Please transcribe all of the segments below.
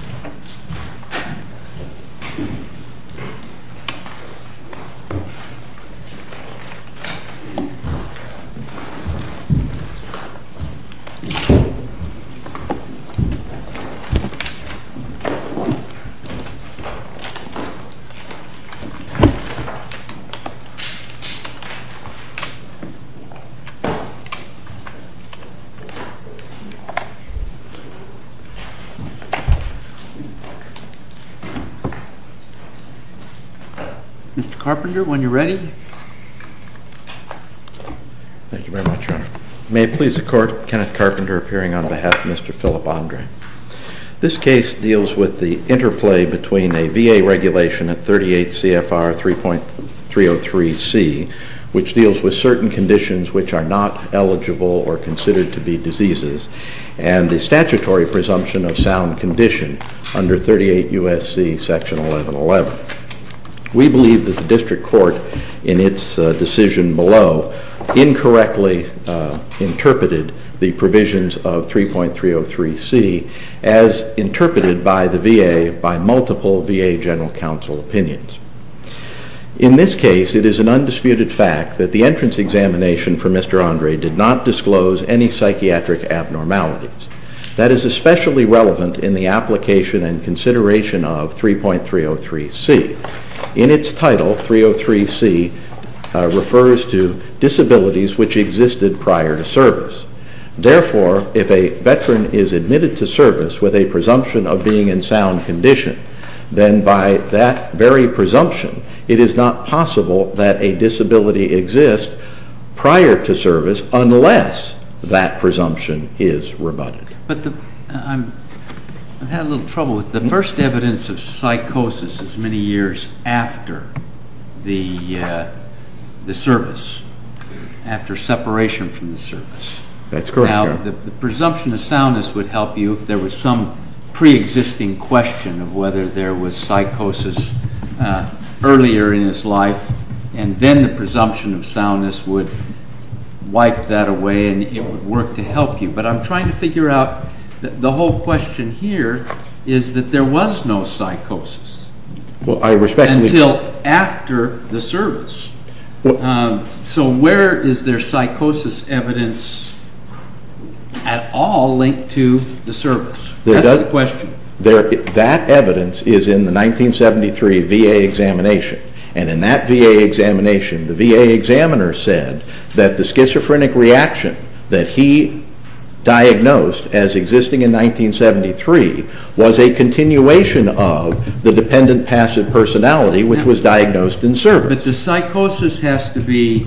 The Governing Body is the 重点 Mr. Carpenter, when you're ready. Thank you very much, Your Honor. May it please the Court, Kenneth Carpenter appearing on behalf of Mr. Philip Andre. This case deals with the interplay between a VA regulation at 38 CFR 3.303C, which deals with certain conditions which are not eligible or considered to be diseases, and the statutory presumption of sound condition under 38 U.S.C. Section 1111. We believe that the District Court in its decision below incorrectly interpreted the provisions of 3.303C as interpreted by the VA by multiple VA General Counsel opinions. In this case, it is an undisputed fact that the entrance examination for Mr. Andre did not disclose any psychiatric abnormalities. That is especially relevant in the application and consideration of 3.303C. In its title, 3.303C refers to disabilities which existed prior to service. Therefore, if a veteran is admitted to service with a presumption of being in sound condition, then by that very presumption it is not possible that a disability exists prior to service unless that presumption is rebutted. But I've had a little trouble with the first evidence of psychosis is many years after the service, after separation from the service. That's correct, Your Honor. Now, the presumption of soundness would help you if there was some preexisting question of whether there was psychosis earlier in his life, and then the presumption of soundness would wipe that away and it would work to help you. But I'm trying to figure out the whole question here is that there was no psychosis until after the service. So where is there psychosis evidence at all linked to the service? That's the question. That evidence is in the 1973 VA examination, and in that VA examination, the VA examiner said that the schizophrenic reaction that he diagnosed as existing in 1973 was a continuation of the dependent passive personality which was diagnosed in service. Sure, but the psychosis has to be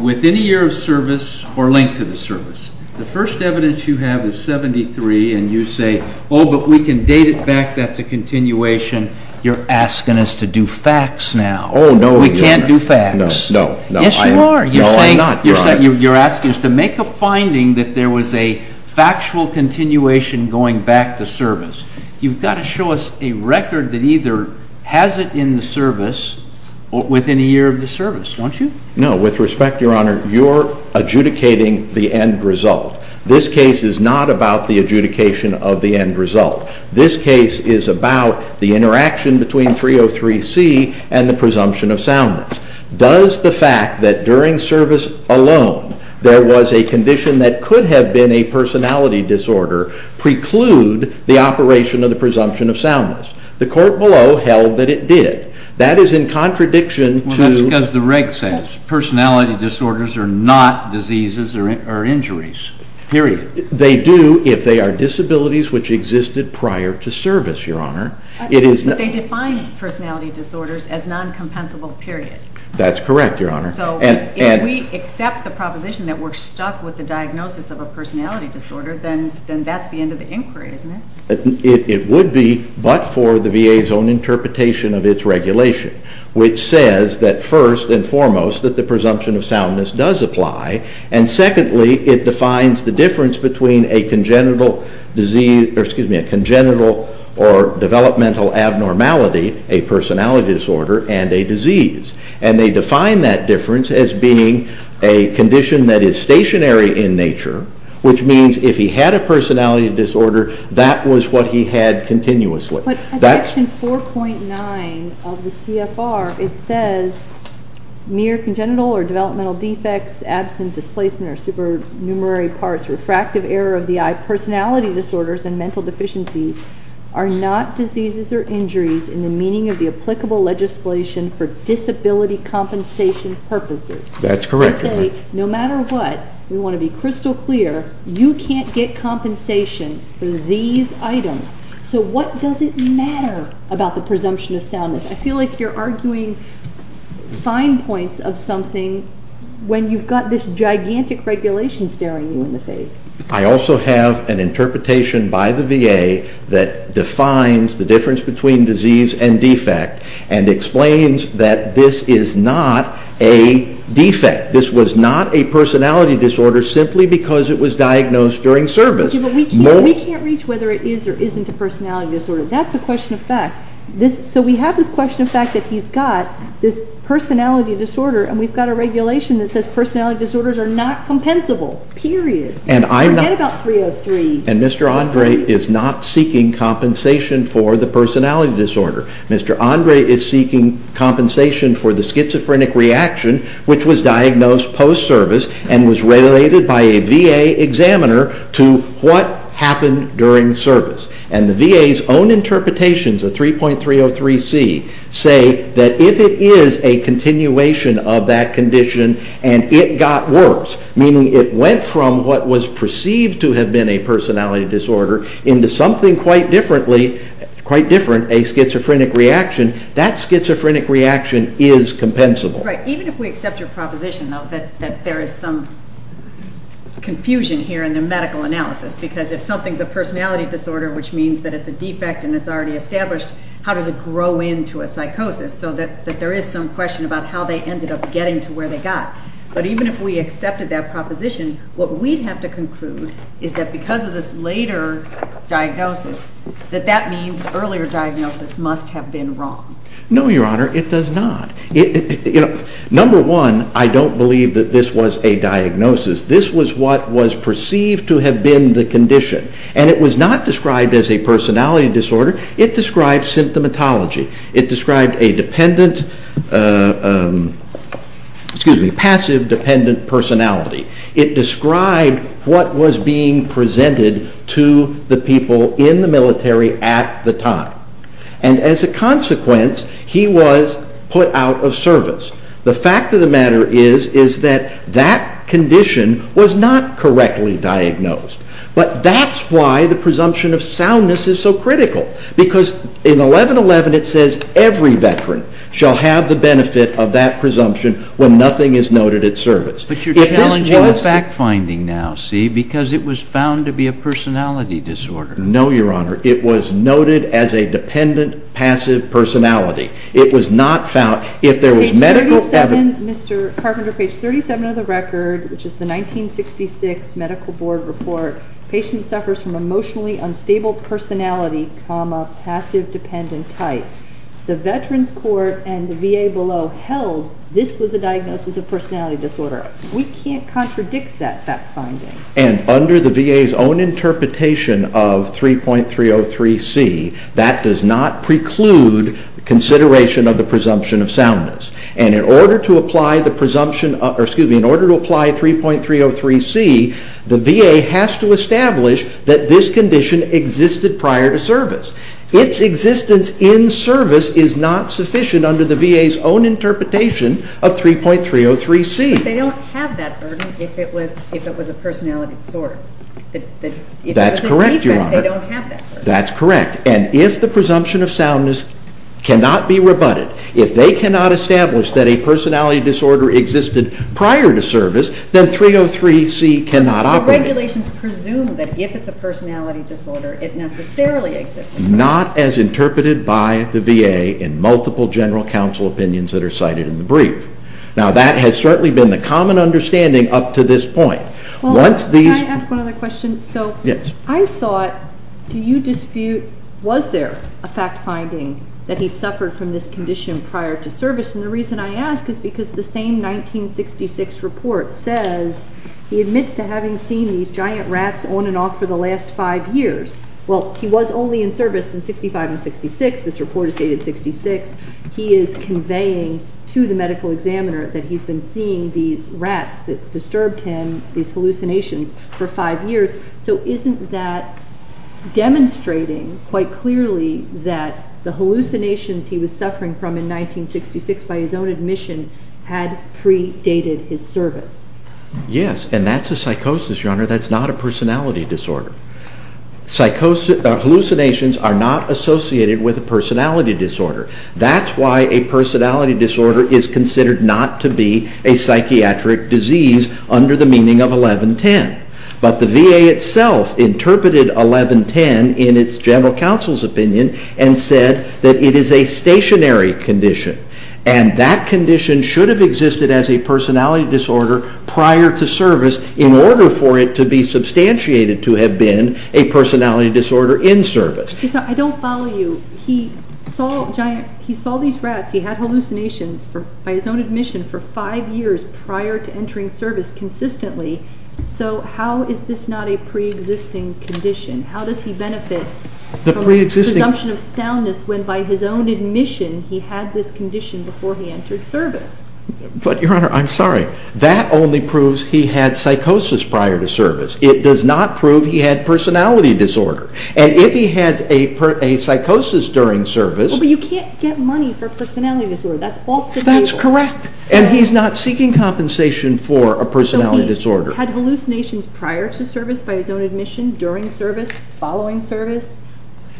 within a year of service or linked to the service. The first evidence you have is 1973, and you say, oh, but we can date it back. That's a continuation. You're asking us to do facts now. Oh, no, Your Honor. We can't do facts. No, no. Yes, you are. No, I'm not, Your Honor. You're asking us to make a finding that there was a factual continuation going back to service. You've got to show us a record that either has it in the service or within a year of the service, don't you? No, with respect, Your Honor, you're adjudicating the end result. This case is not about the adjudication of the end result. This case is about the interaction between 303C and the presumption of soundness. Does the fact that during service alone there was a condition that could have been a personality disorder preclude the operation of the presumption of soundness? The court below held that it did. That is in contradiction to- Well, that's because the reg says personality disorders are not diseases or injuries, period. They do if they are disabilities which existed prior to service, Your Honor. But they define personality disorders as non-compensable, period. That's correct, Your Honor. So if we accept the proposition that we're stuck with the diagnosis of a personality disorder, then that's the end of the inquiry, isn't it? It would be, but for the VA's own interpretation of its regulation, which says that first and foremost that the presumption of soundness does apply, and secondly, it defines the difference between a congenital or developmental abnormality, a personality disorder, and a disease. And they define that difference as being a condition that is stationary in nature, which means if he had a personality disorder, that was what he had continuously. But section 4.9 of the CFR, it says mere congenital or developmental defects, absent displacement or supernumerary parts, refractive error of the eye, personality disorders, and mental deficiencies are not diseases or injuries in the meaning of the applicable legislation for disability compensation purposes. That's correct, Your Honor. They say no matter what, we want to be crystal clear, you can't get compensation for these items. So what does it matter about the presumption of soundness? I feel like you're arguing fine points of something when you've got this gigantic regulation staring you in the face. I also have an interpretation by the VA that defines the difference between disease and defect and explains that this is not a defect. This was not a personality disorder simply because it was diagnosed during service. We can't reach whether it is or isn't a personality disorder. That's a question of fact. So we have this question of fact that he's got this personality disorder, and we've got a regulation that says personality disorders are not compensable, period. Forget about 303. And Mr. Andre is not seeking compensation for the personality disorder. Mr. Andre is seeking compensation for the schizophrenic reaction which was diagnosed post-service and was related by a VA examiner to what happened during service. And the VA's own interpretations of 3.303c say that if it is a continuation of that condition and it got worse, meaning it went from what was perceived to have been a personality disorder into something quite different, a schizophrenic reaction, that schizophrenic reaction is compensable. Right. Even if we accept your proposition, though, that there is some confusion here in the medical analysis, because if something's a personality disorder, which means that it's a defect and it's already established, how does it grow into a psychosis so that there is some question about how they ended up getting to where they got? But even if we accepted that proposition, what we'd have to conclude is that because of this later diagnosis, that that means the earlier diagnosis must have been wrong. No, Your Honor, it does not. Number one, I don't believe that this was a diagnosis. This was what was perceived to have been the condition. And it was not described as a personality disorder. It described symptomatology. It described a passive, dependent personality. It described what was being presented to the people in the military at the time. And as a consequence, he was put out of service. The fact of the matter is that that condition was not correctly diagnosed. But that's why the presumption of soundness is so critical. Because in 1111, it says every veteran shall have the benefit of that presumption when nothing is noted at service. But you're challenging the fact-finding now, see, because it was found to be a personality disorder. No, Your Honor. It was noted as a dependent, passive personality. It was not found. If there was medical evidence... Page 37, Mr. Carpenter, page 37 of the record, which is the 1966 Medical Board Report, patient suffers from emotionally unstable personality, passive, dependent type. The Veterans Court and the VA below held this was a diagnosis of personality disorder. We can't contradict that fact-finding. And under the VA's own interpretation of 3.303c, that does not preclude consideration of the presumption of soundness. And in order to apply 3.303c, the VA has to establish that this condition existed prior to service. Its existence in service is not sufficient under the VA's own interpretation of 3.303c. But they don't have that burden if it was a personality disorder. That's correct, Your Honor. If it was a defect, they don't have that burden. That's correct. And if the presumption of soundness cannot be rebutted, if they cannot establish that a personality disorder existed prior to service, then 3.303c cannot operate. The regulations presume that if it's a personality disorder, it necessarily existed. Not as interpreted by the VA in multiple general counsel opinions that are cited in the brief. Now, that has certainly been the common understanding up to this point. Can I ask one other question? Yes. I thought, do you dispute, was there a fact finding that he suffered from this condition prior to service? And the reason I ask is because the same 1966 report says he admits to having seen these giant rats on and off for the last five years. Well, he was only in service in 1965 and 1966. This report is dated 1966. He is conveying to the medical examiner that he's been seeing these rats that disturbed him, these hallucinations, for five years. So isn't that demonstrating quite clearly that the hallucinations he was suffering from in 1966 by his own admission had predated his service? Yes, and that's a psychosis, Your Honor. That's not a personality disorder. Hallucinations are not associated with a personality disorder. That's why a personality disorder is considered not to be a psychiatric disease under the meaning of 1110. But the VA itself interpreted 1110 in its general counsel's opinion and said that it is a stationary condition. And that condition should have existed as a personality disorder prior to service in order for it to be substantiated to have been a personality disorder in service. I don't follow you. He saw these rats. He had hallucinations by his own admission for five years prior to entering service consistently. So how is this not a pre-existing condition? How does he benefit from the presumption of soundness when by his own admission he had this condition before he entered service? But, Your Honor, I'm sorry. That only proves he had psychosis prior to service. It does not prove he had personality disorder. And if he had a psychosis during service... Well, but you can't get money for personality disorder. That's balk to the people. That's correct. And he's not seeking compensation for a personality disorder. So he had hallucinations prior to service by his own admission, during service, following service.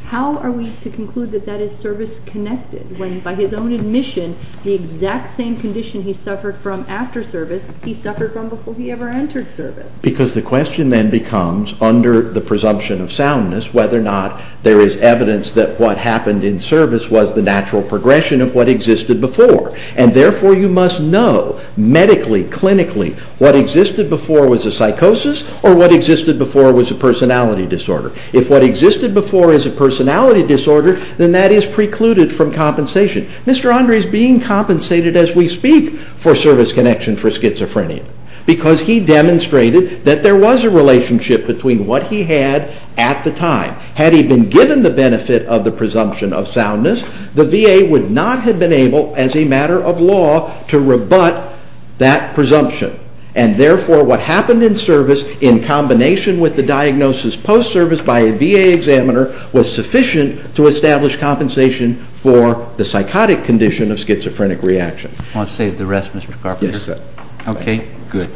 How are we to conclude that that is service-connected when by his own admission the exact same condition he suffered from after service he suffered from before he ever entered service? Because the question then becomes, under the presumption of soundness, whether or not there is evidence that what happened in service was the natural progression of what existed before. And therefore you must know, medically, clinically, what existed before was a psychosis or what existed before was a personality disorder. If what existed before is a personality disorder, then that is precluded from compensation. Mr. Andre is being compensated as we speak for service connection for schizophrenia. Because he demonstrated that there was a relationship between what he had at the time. Had he been given the benefit of the presumption of soundness, the VA would not have been able, as a matter of law, to rebut that presumption. And therefore what happened in service, in combination with the diagnosis post-service by a VA examiner, was sufficient to establish compensation for the psychotic condition of schizophrenic reaction. I'll save the rest, Mr. Carpenter. Yes, sir. Okay, good.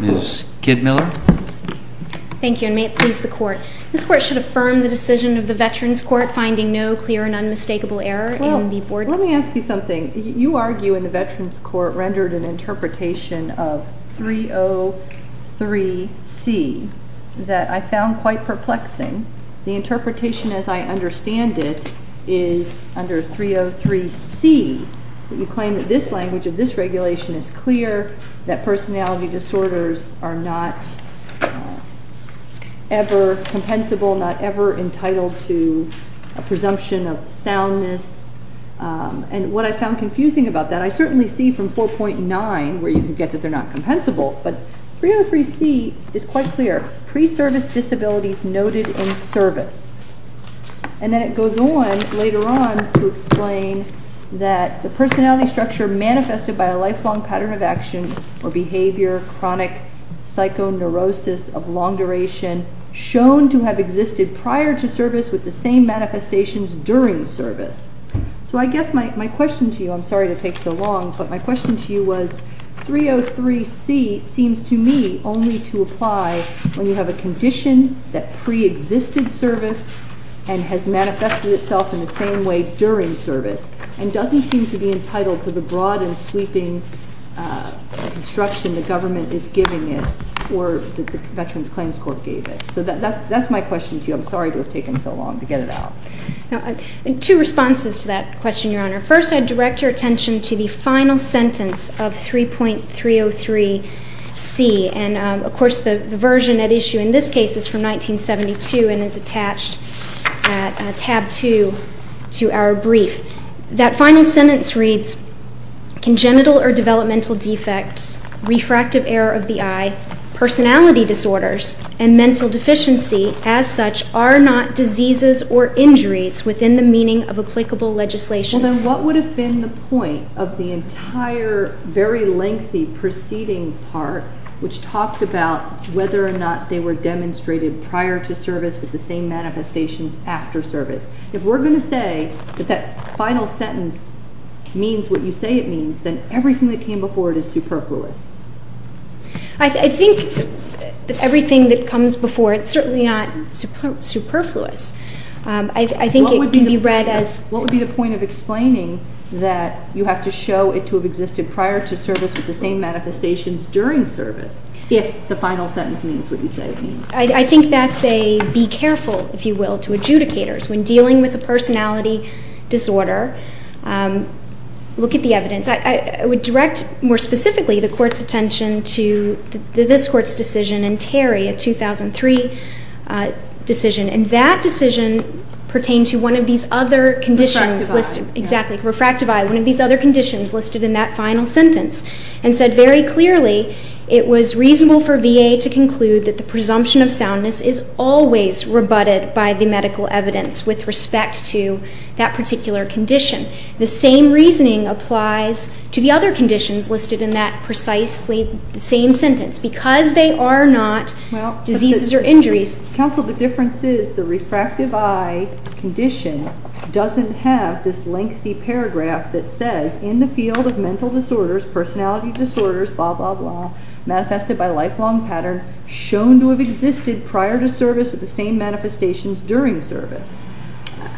Ms. Kidmiller? Thank you, and may it please the Court. This Court should affirm the decision of the Veterans Court finding no clear and unmistakable error in the board report. Well, let me ask you something. You argue in the Veterans Court rendered an interpretation of 303C that I found quite perplexing. The interpretation as I understand it is under 303C that you claim that this language of this regulation is clear, that personality disorders are not ever compensable, not ever entitled to a presumption of soundness. And what I found confusing about that, I certainly see from 4.9 where you can get that they're not compensable, but 303C is quite clear. Pre-service disabilities noted in service. And then it goes on later on to explain that the personality structure manifested by a lifelong pattern of action or behavior, chronic psychoneurosis of long duration, shown to have existed prior to service with the same manifestations during service. So I guess my question to you, I'm sorry to take so long, but my question to you was 303C seems to me only to apply when you have a condition that pre-existed service and has manifested itself in the same way during service, and doesn't seem to be entitled to the broad and sweeping instruction the government is giving it or that the Veterans Claims Court gave it. So that's my question to you. I'm sorry to have taken so long to get it out. Two responses to that question, Your Honor. First, I direct your attention to the final sentence of 3.303C, and of course the version at issue in this case is from 1972 and is attached at tab 2 to our brief. That final sentence reads, congenital or developmental defects, refractive error of the eye, personality disorders, and mental deficiency as such are not diseases or injuries within the meaning of applicable legislation. Well, then what would have been the point of the entire very lengthy preceding part which talked about whether or not they were demonstrated prior to service with the same manifestations after service? If we're going to say that that final sentence means what you say it means, then everything that came before it is superfluous. I think that everything that comes before it is certainly not superfluous. I think it can be read as… What would be the point of explaining that you have to show it to have existed prior to service with the same manifestations during service if the final sentence means what you say it means? I think that's a be careful, if you will, to adjudicators when dealing with a personality disorder. Look at the evidence. I would direct more specifically the Court's attention to this Court's decision in Terry, a 2003 decision, and that decision pertained to one of these other conditions listed. Refractive eye. Exactly. Refractive eye. One of these other conditions listed in that final sentence and said very clearly it was reasonable for VA to conclude that the presumption of soundness is always rebutted by the medical evidence with respect to that particular condition. The same reasoning applies to the other conditions listed in that precisely same sentence. Because they are not diseases or injuries. Counsel, the difference is the refractive eye condition doesn't have this lengthy paragraph that says, in the field of mental disorders, personality disorders, blah, blah, blah, manifested by lifelong pattern, shown to have existed prior to service with the same manifestations during service.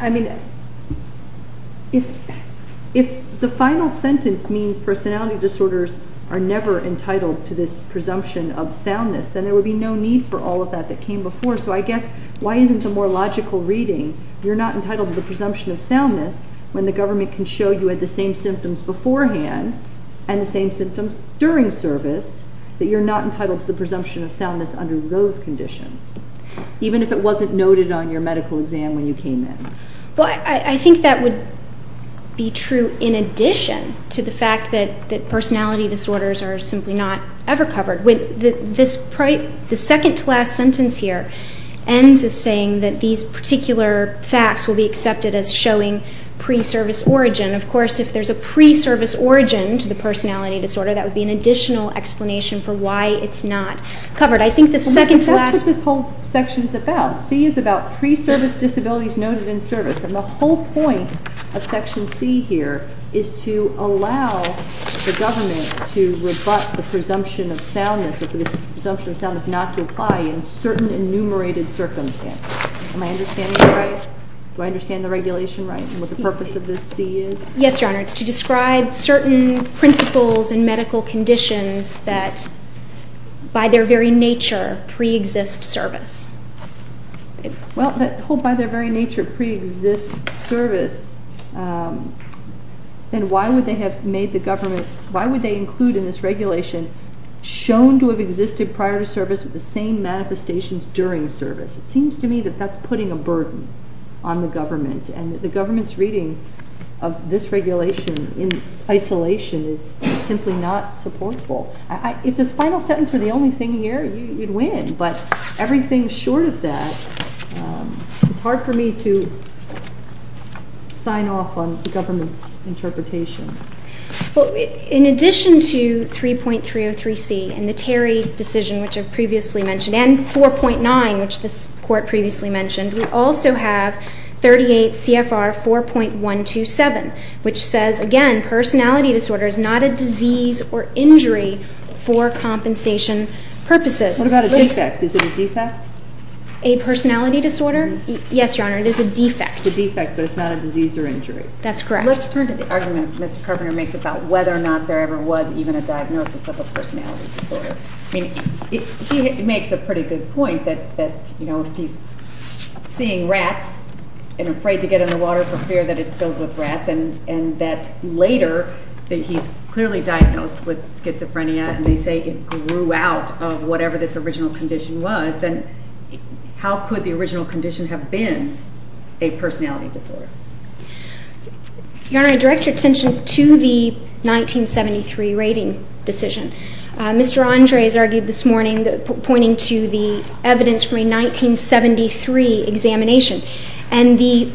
I mean, if the final sentence means personality disorders are never entitled to this presumption of soundness, then there would be no need for all of that that came before. So I guess why isn't the more logical reading, you're not entitled to the presumption of soundness, when the government can show you had the same symptoms beforehand and the same symptoms during service, that you're not entitled to the presumption of soundness under those conditions. Even if it wasn't noted on your medical exam when you came in. Well, I think that would be true in addition to the fact that personality disorders are simply not ever covered. The second to last sentence here ends with saying that these particular facts will be accepted as showing pre-service origin. Of course, if there's a pre-service origin to the personality disorder, that would be an additional explanation for why it's not covered. That's what this whole section is about. C is about pre-service disabilities noted in service. And the whole point of section C here is to allow the government to rebut the presumption of soundness or the presumption of soundness not to apply in certain enumerated circumstances. Am I understanding this right? Do I understand the regulation right and what the purpose of this C is? Yes, Your Honor. It's to describe certain principles and medical conditions that by their very nature pre-exist service. Well, that whole by their very nature pre-exist service, then why would they have made the government, why would they include in this regulation shown to have existed prior to service with the same manifestations during service? It seems to me that that's putting a burden on the government and the government's reading of this regulation in isolation is simply not supportful. If this final sentence were the only thing here, you'd win, but everything short of that, it's hard for me to sign off on the government's interpretation. Well, in addition to 3.303C and the Terry decision, which I've previously mentioned, and 4.9, which this Court previously mentioned, we also have 38 CFR 4.127, which says, again, personality disorder is not a disease or injury for compensation purposes. What about a defect? Is it a defect? A personality disorder? Yes, Your Honor, it is a defect. A defect, but it's not a disease or injury. That's correct. Let's turn to the argument Mr. Carpenter makes about whether or not there ever was even a diagnosis of a personality disorder. I mean, he makes a pretty good point that, you know, he's seeing rats and afraid to get in the water for fear that it's filled with rats and that later that he's clearly diagnosed with schizophrenia and they say it grew out of whatever this original condition was, then how could the original condition have been a personality disorder? Your Honor, I direct your attention to the 1973 rating decision. Mr. Andres argued this morning pointing to the evidence from a 1973 examination, and the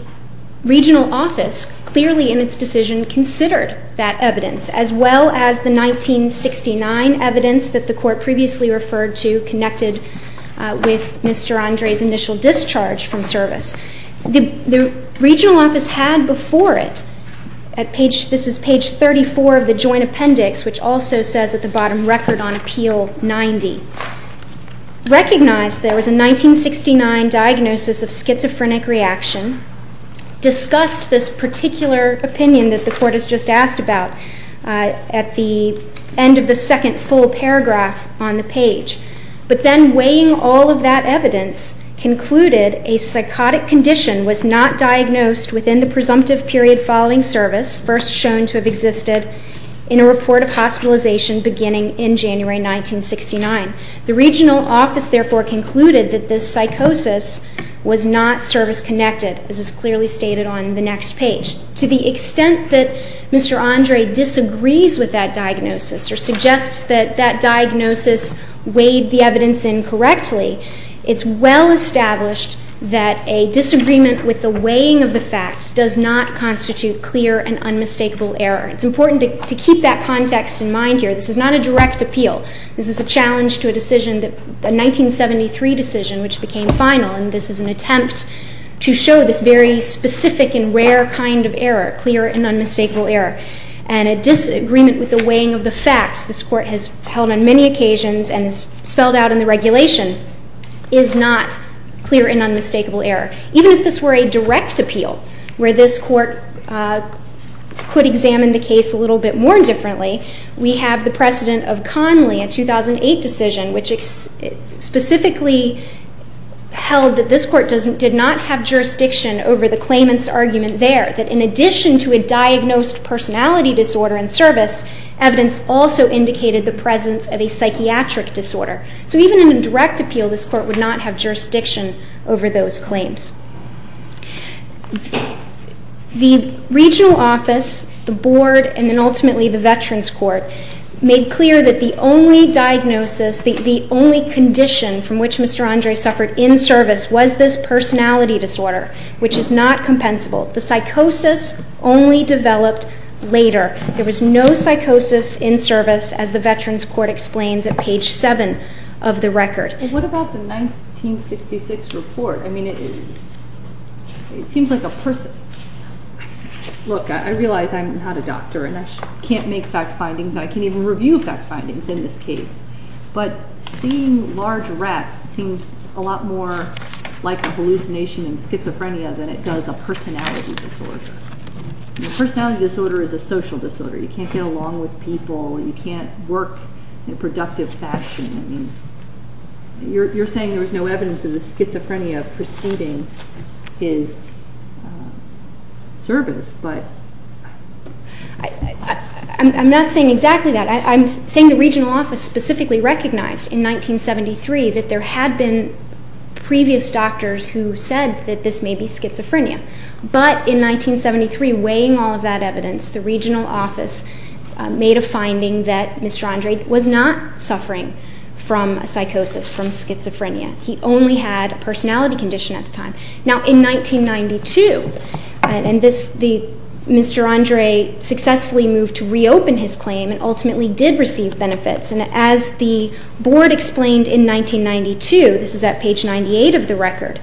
regional office clearly in its decision considered that evidence, as well as the 1969 evidence that the Court previously referred to connected with Mr. Andres' initial discharge from service. The regional office had before it, this is page 34 of the joint appendix, which also says at the bottom, record on appeal 90, recognized there was a 1969 diagnosis of schizophrenic reaction, discussed this particular opinion that the Court has just asked about, at the end of the second full paragraph on the page. But then weighing all of that evidence concluded a psychotic condition was not diagnosed within the presumptive period following service, first shown to have existed in a report of hospitalization beginning in January 1969. The regional office therefore concluded that this psychosis was not service-connected, as is clearly stated on the next page. To the extent that Mr. Andres disagrees with that diagnosis or suggests that that diagnosis weighed the evidence incorrectly, it's well established that a disagreement with the weighing of the facts does not constitute clear and unmistakable error. It's important to keep that context in mind here. This is not a direct appeal. This is a challenge to a decision, a 1973 decision, which became final, and this is an attempt to show this very specific and rare kind of error, clear and unmistakable error. And a disagreement with the weighing of the facts this Court has held on many occasions and has spelled out in the regulation is not clear and unmistakable error. Even if this were a direct appeal where this Court could examine the case a little bit more differently, we have the precedent of Conley, a 2008 decision, which specifically held that this Court did not have jurisdiction over the claimant's argument there, that in addition to a diagnosed personality disorder in service, evidence also indicated the presence of a psychiatric disorder. So even in a direct appeal, this Court would not have jurisdiction over those claims. The regional office, the Board, and then ultimately the Veterans Court made clear that the only diagnosis, the only condition from which Mr. Andre suffered in service was this personality disorder, which is not compensable. The psychosis only developed later. There was no psychosis in service, as the Veterans Court explains at page 7 of the record. What about the 1966 report? I mean, it seems like a person... Look, I realize I'm not a doctor and I can't make fact findings. I can't even review fact findings in this case. But seeing large rats seems a lot more like a hallucination and schizophrenia than it does a personality disorder. A personality disorder is a social disorder. You can't get along with people. You can't work in a productive fashion. You're saying there was no evidence of the schizophrenia preceding his service, but... I'm not saying exactly that. I'm saying the regional office specifically recognized in 1973 that there had been previous doctors who said that this may be schizophrenia. But in 1973, weighing all of that evidence, the regional office made a finding that Mr. Andre was not suffering from psychosis, from schizophrenia. He only had a personality condition at the time. Now, in 1992, Mr. Andre successfully moved to reopen his claim and ultimately did receive benefits. And as the board explained in 1992, this is at page 98 of the record,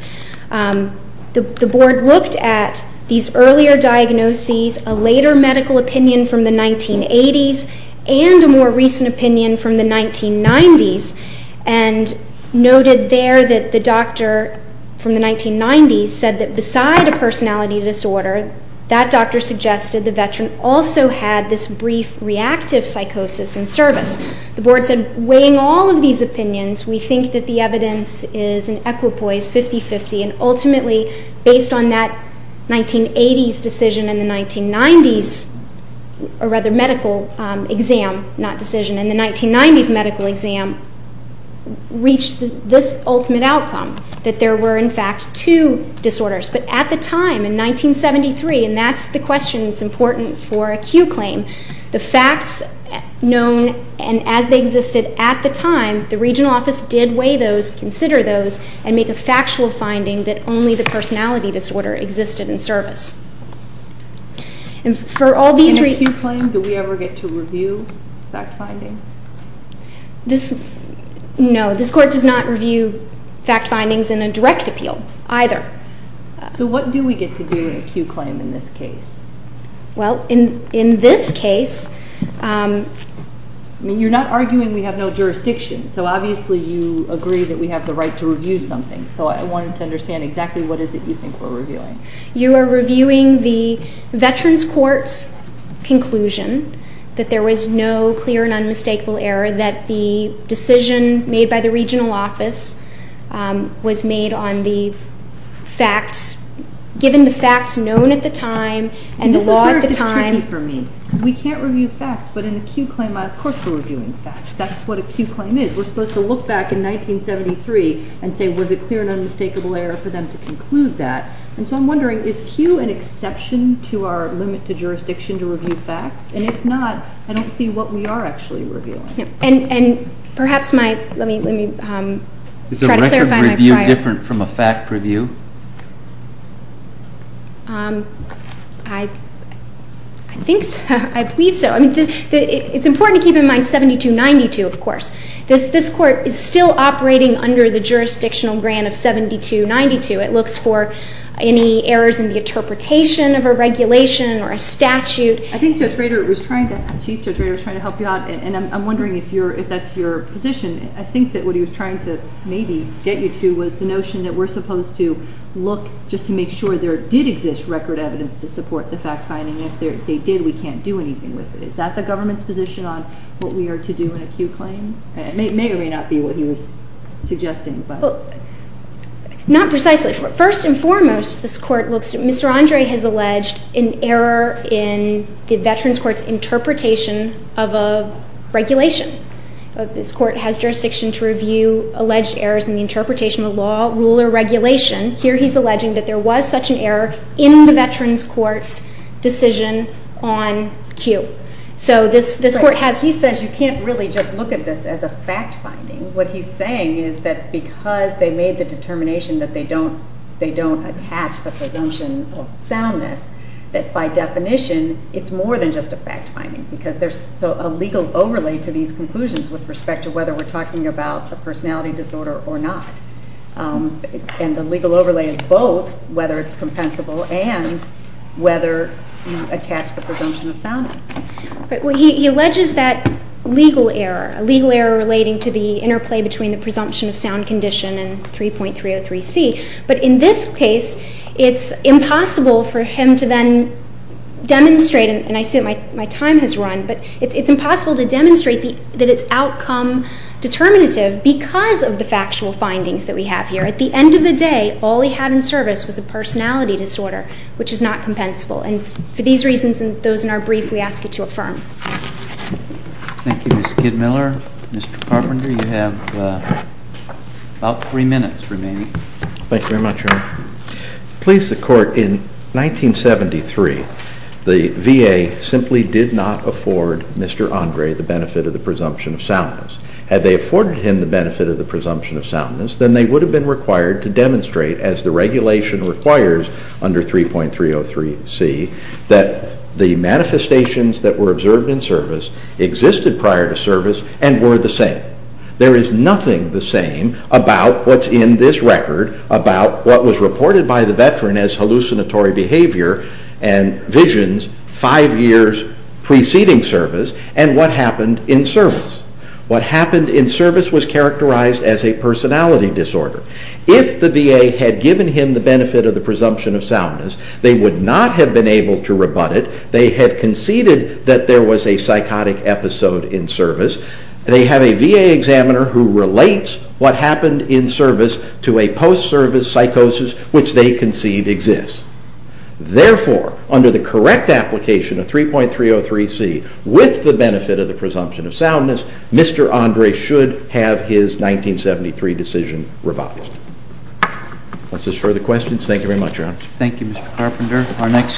the board looked at these earlier diagnoses, a later medical opinion from the 1980s, and a more recent opinion from the 1990s, and noted there that the doctor from the 1990s said that beside a personality disorder, that doctor suggested the veteran also had this brief reactive psychosis in service. The board said, weighing all of these opinions, we think that the evidence is an equipoise, 50-50, and ultimately based on that 1980s decision and the 1990s, or rather medical exam, not decision, and the 1990s medical exam reached this ultimate outcome, that there were in fact two disorders. But at the time, in 1973, and that's the question that's important for a Q claim, the facts known and as they existed at the time, the regional office did weigh those, consider those, and make a factual finding that only the personality disorder existed in service. In a Q claim, do we ever get to review fact findings? No, this court does not review fact findings in a direct appeal either. So what do we get to do in a Q claim in this case? Well, in this case, you're not arguing we have no jurisdiction, so obviously you agree that we have the right to review something, so I wanted to understand exactly what is it you think we're reviewing. You are reviewing the veterans court's conclusion that there was no clear and unmistakable error, that the decision made by the regional office was made on the facts, given the facts known at the time and the law at the time. See, this is where it gets tricky for me, because we can't review facts, but in a Q claim, of course we're reviewing facts. That's what a Q claim is. We're supposed to look back in 1973 and say, was it clear and unmistakable error for them to conclude that? And so I'm wondering, is Q an exception to our limit to jurisdiction to review facts? And if not, I don't see what we are actually reviewing. And perhaps my, let me try to clarify my prior... I think so, I believe so. It's important to keep in mind 7292, of course. This court is still operating under the jurisdictional grant of 7292. It looks for any errors in the interpretation of a regulation or a statute. I think Judge Rader was trying to, Chief Judge Rader was trying to help you out, and I'm wondering if that's your position. I think that what he was trying to maybe get you to was the notion that we're supposed to look just to make sure there did exist record evidence to support the fact-finding, and if they did, we can't do anything with it. Is that the government's position on what we are to do in a Q claim? It may or may not be what he was suggesting, but... Not precisely. First and foremost, this court looks at, Mr. Andre has alleged an error in the Veterans Court's interpretation of a regulation. This court has jurisdiction to review alleged errors in the interpretation of law, rule, or regulation. Here he's alleging that there was such an error in the Veterans Court's decision on Q. So this court has... He says you can't really just look at this as a fact-finding. What he's saying is that because they made the determination that they don't attach the presumption of soundness, that by definition it's more than just a fact-finding because there's a legal overlay to these conclusions with respect to whether we're talking about a personality disorder or not. And the legal overlay is both whether it's compensable and whether you attach the presumption of soundness. He alleges that legal error, a legal error relating to the interplay between the presumption of sound condition and 3.303C, but in this case it's impossible for him to then demonstrate, and I see that my time has run, but it's impossible to demonstrate that it's outcome determinative because of the factual findings that we have here. At the end of the day, all he had in service was a personality disorder, which is not compensable. And for these reasons and those in our brief, we ask you to affirm. Thank you, Ms. Kidmiller. Mr. Carpenter, you have about three minutes remaining. Thank you very much, Your Honor. Please, the Court, in 1973 the VA simply did not afford Mr. Andre the benefit of the presumption of soundness. Had they afforded him the benefit of the presumption of soundness, then they would have been required to demonstrate, as the regulation requires under 3.303C, that the manifestations that were observed in service existed prior to service and were the same. There is nothing the same about what's in this record about what was reported by the veteran as hallucinatory behavior and visions five years preceding service and what happened in service. What happened in service was characterized as a personality disorder. If the VA had given him the benefit of the presumption of soundness, they would not have been able to rebut it. They had conceded that there was a psychotic episode in service. They have a VA examiner who relates what happened in service to a post-service psychosis which they concede exists. Therefore, under the correct application of 3.303C with the benefit of the presumption of soundness, Mr. Andre should have his 1973 decision revised. Unless there are further questions, thank you very much, Your Honor. Thank you, Mr. Carpenter.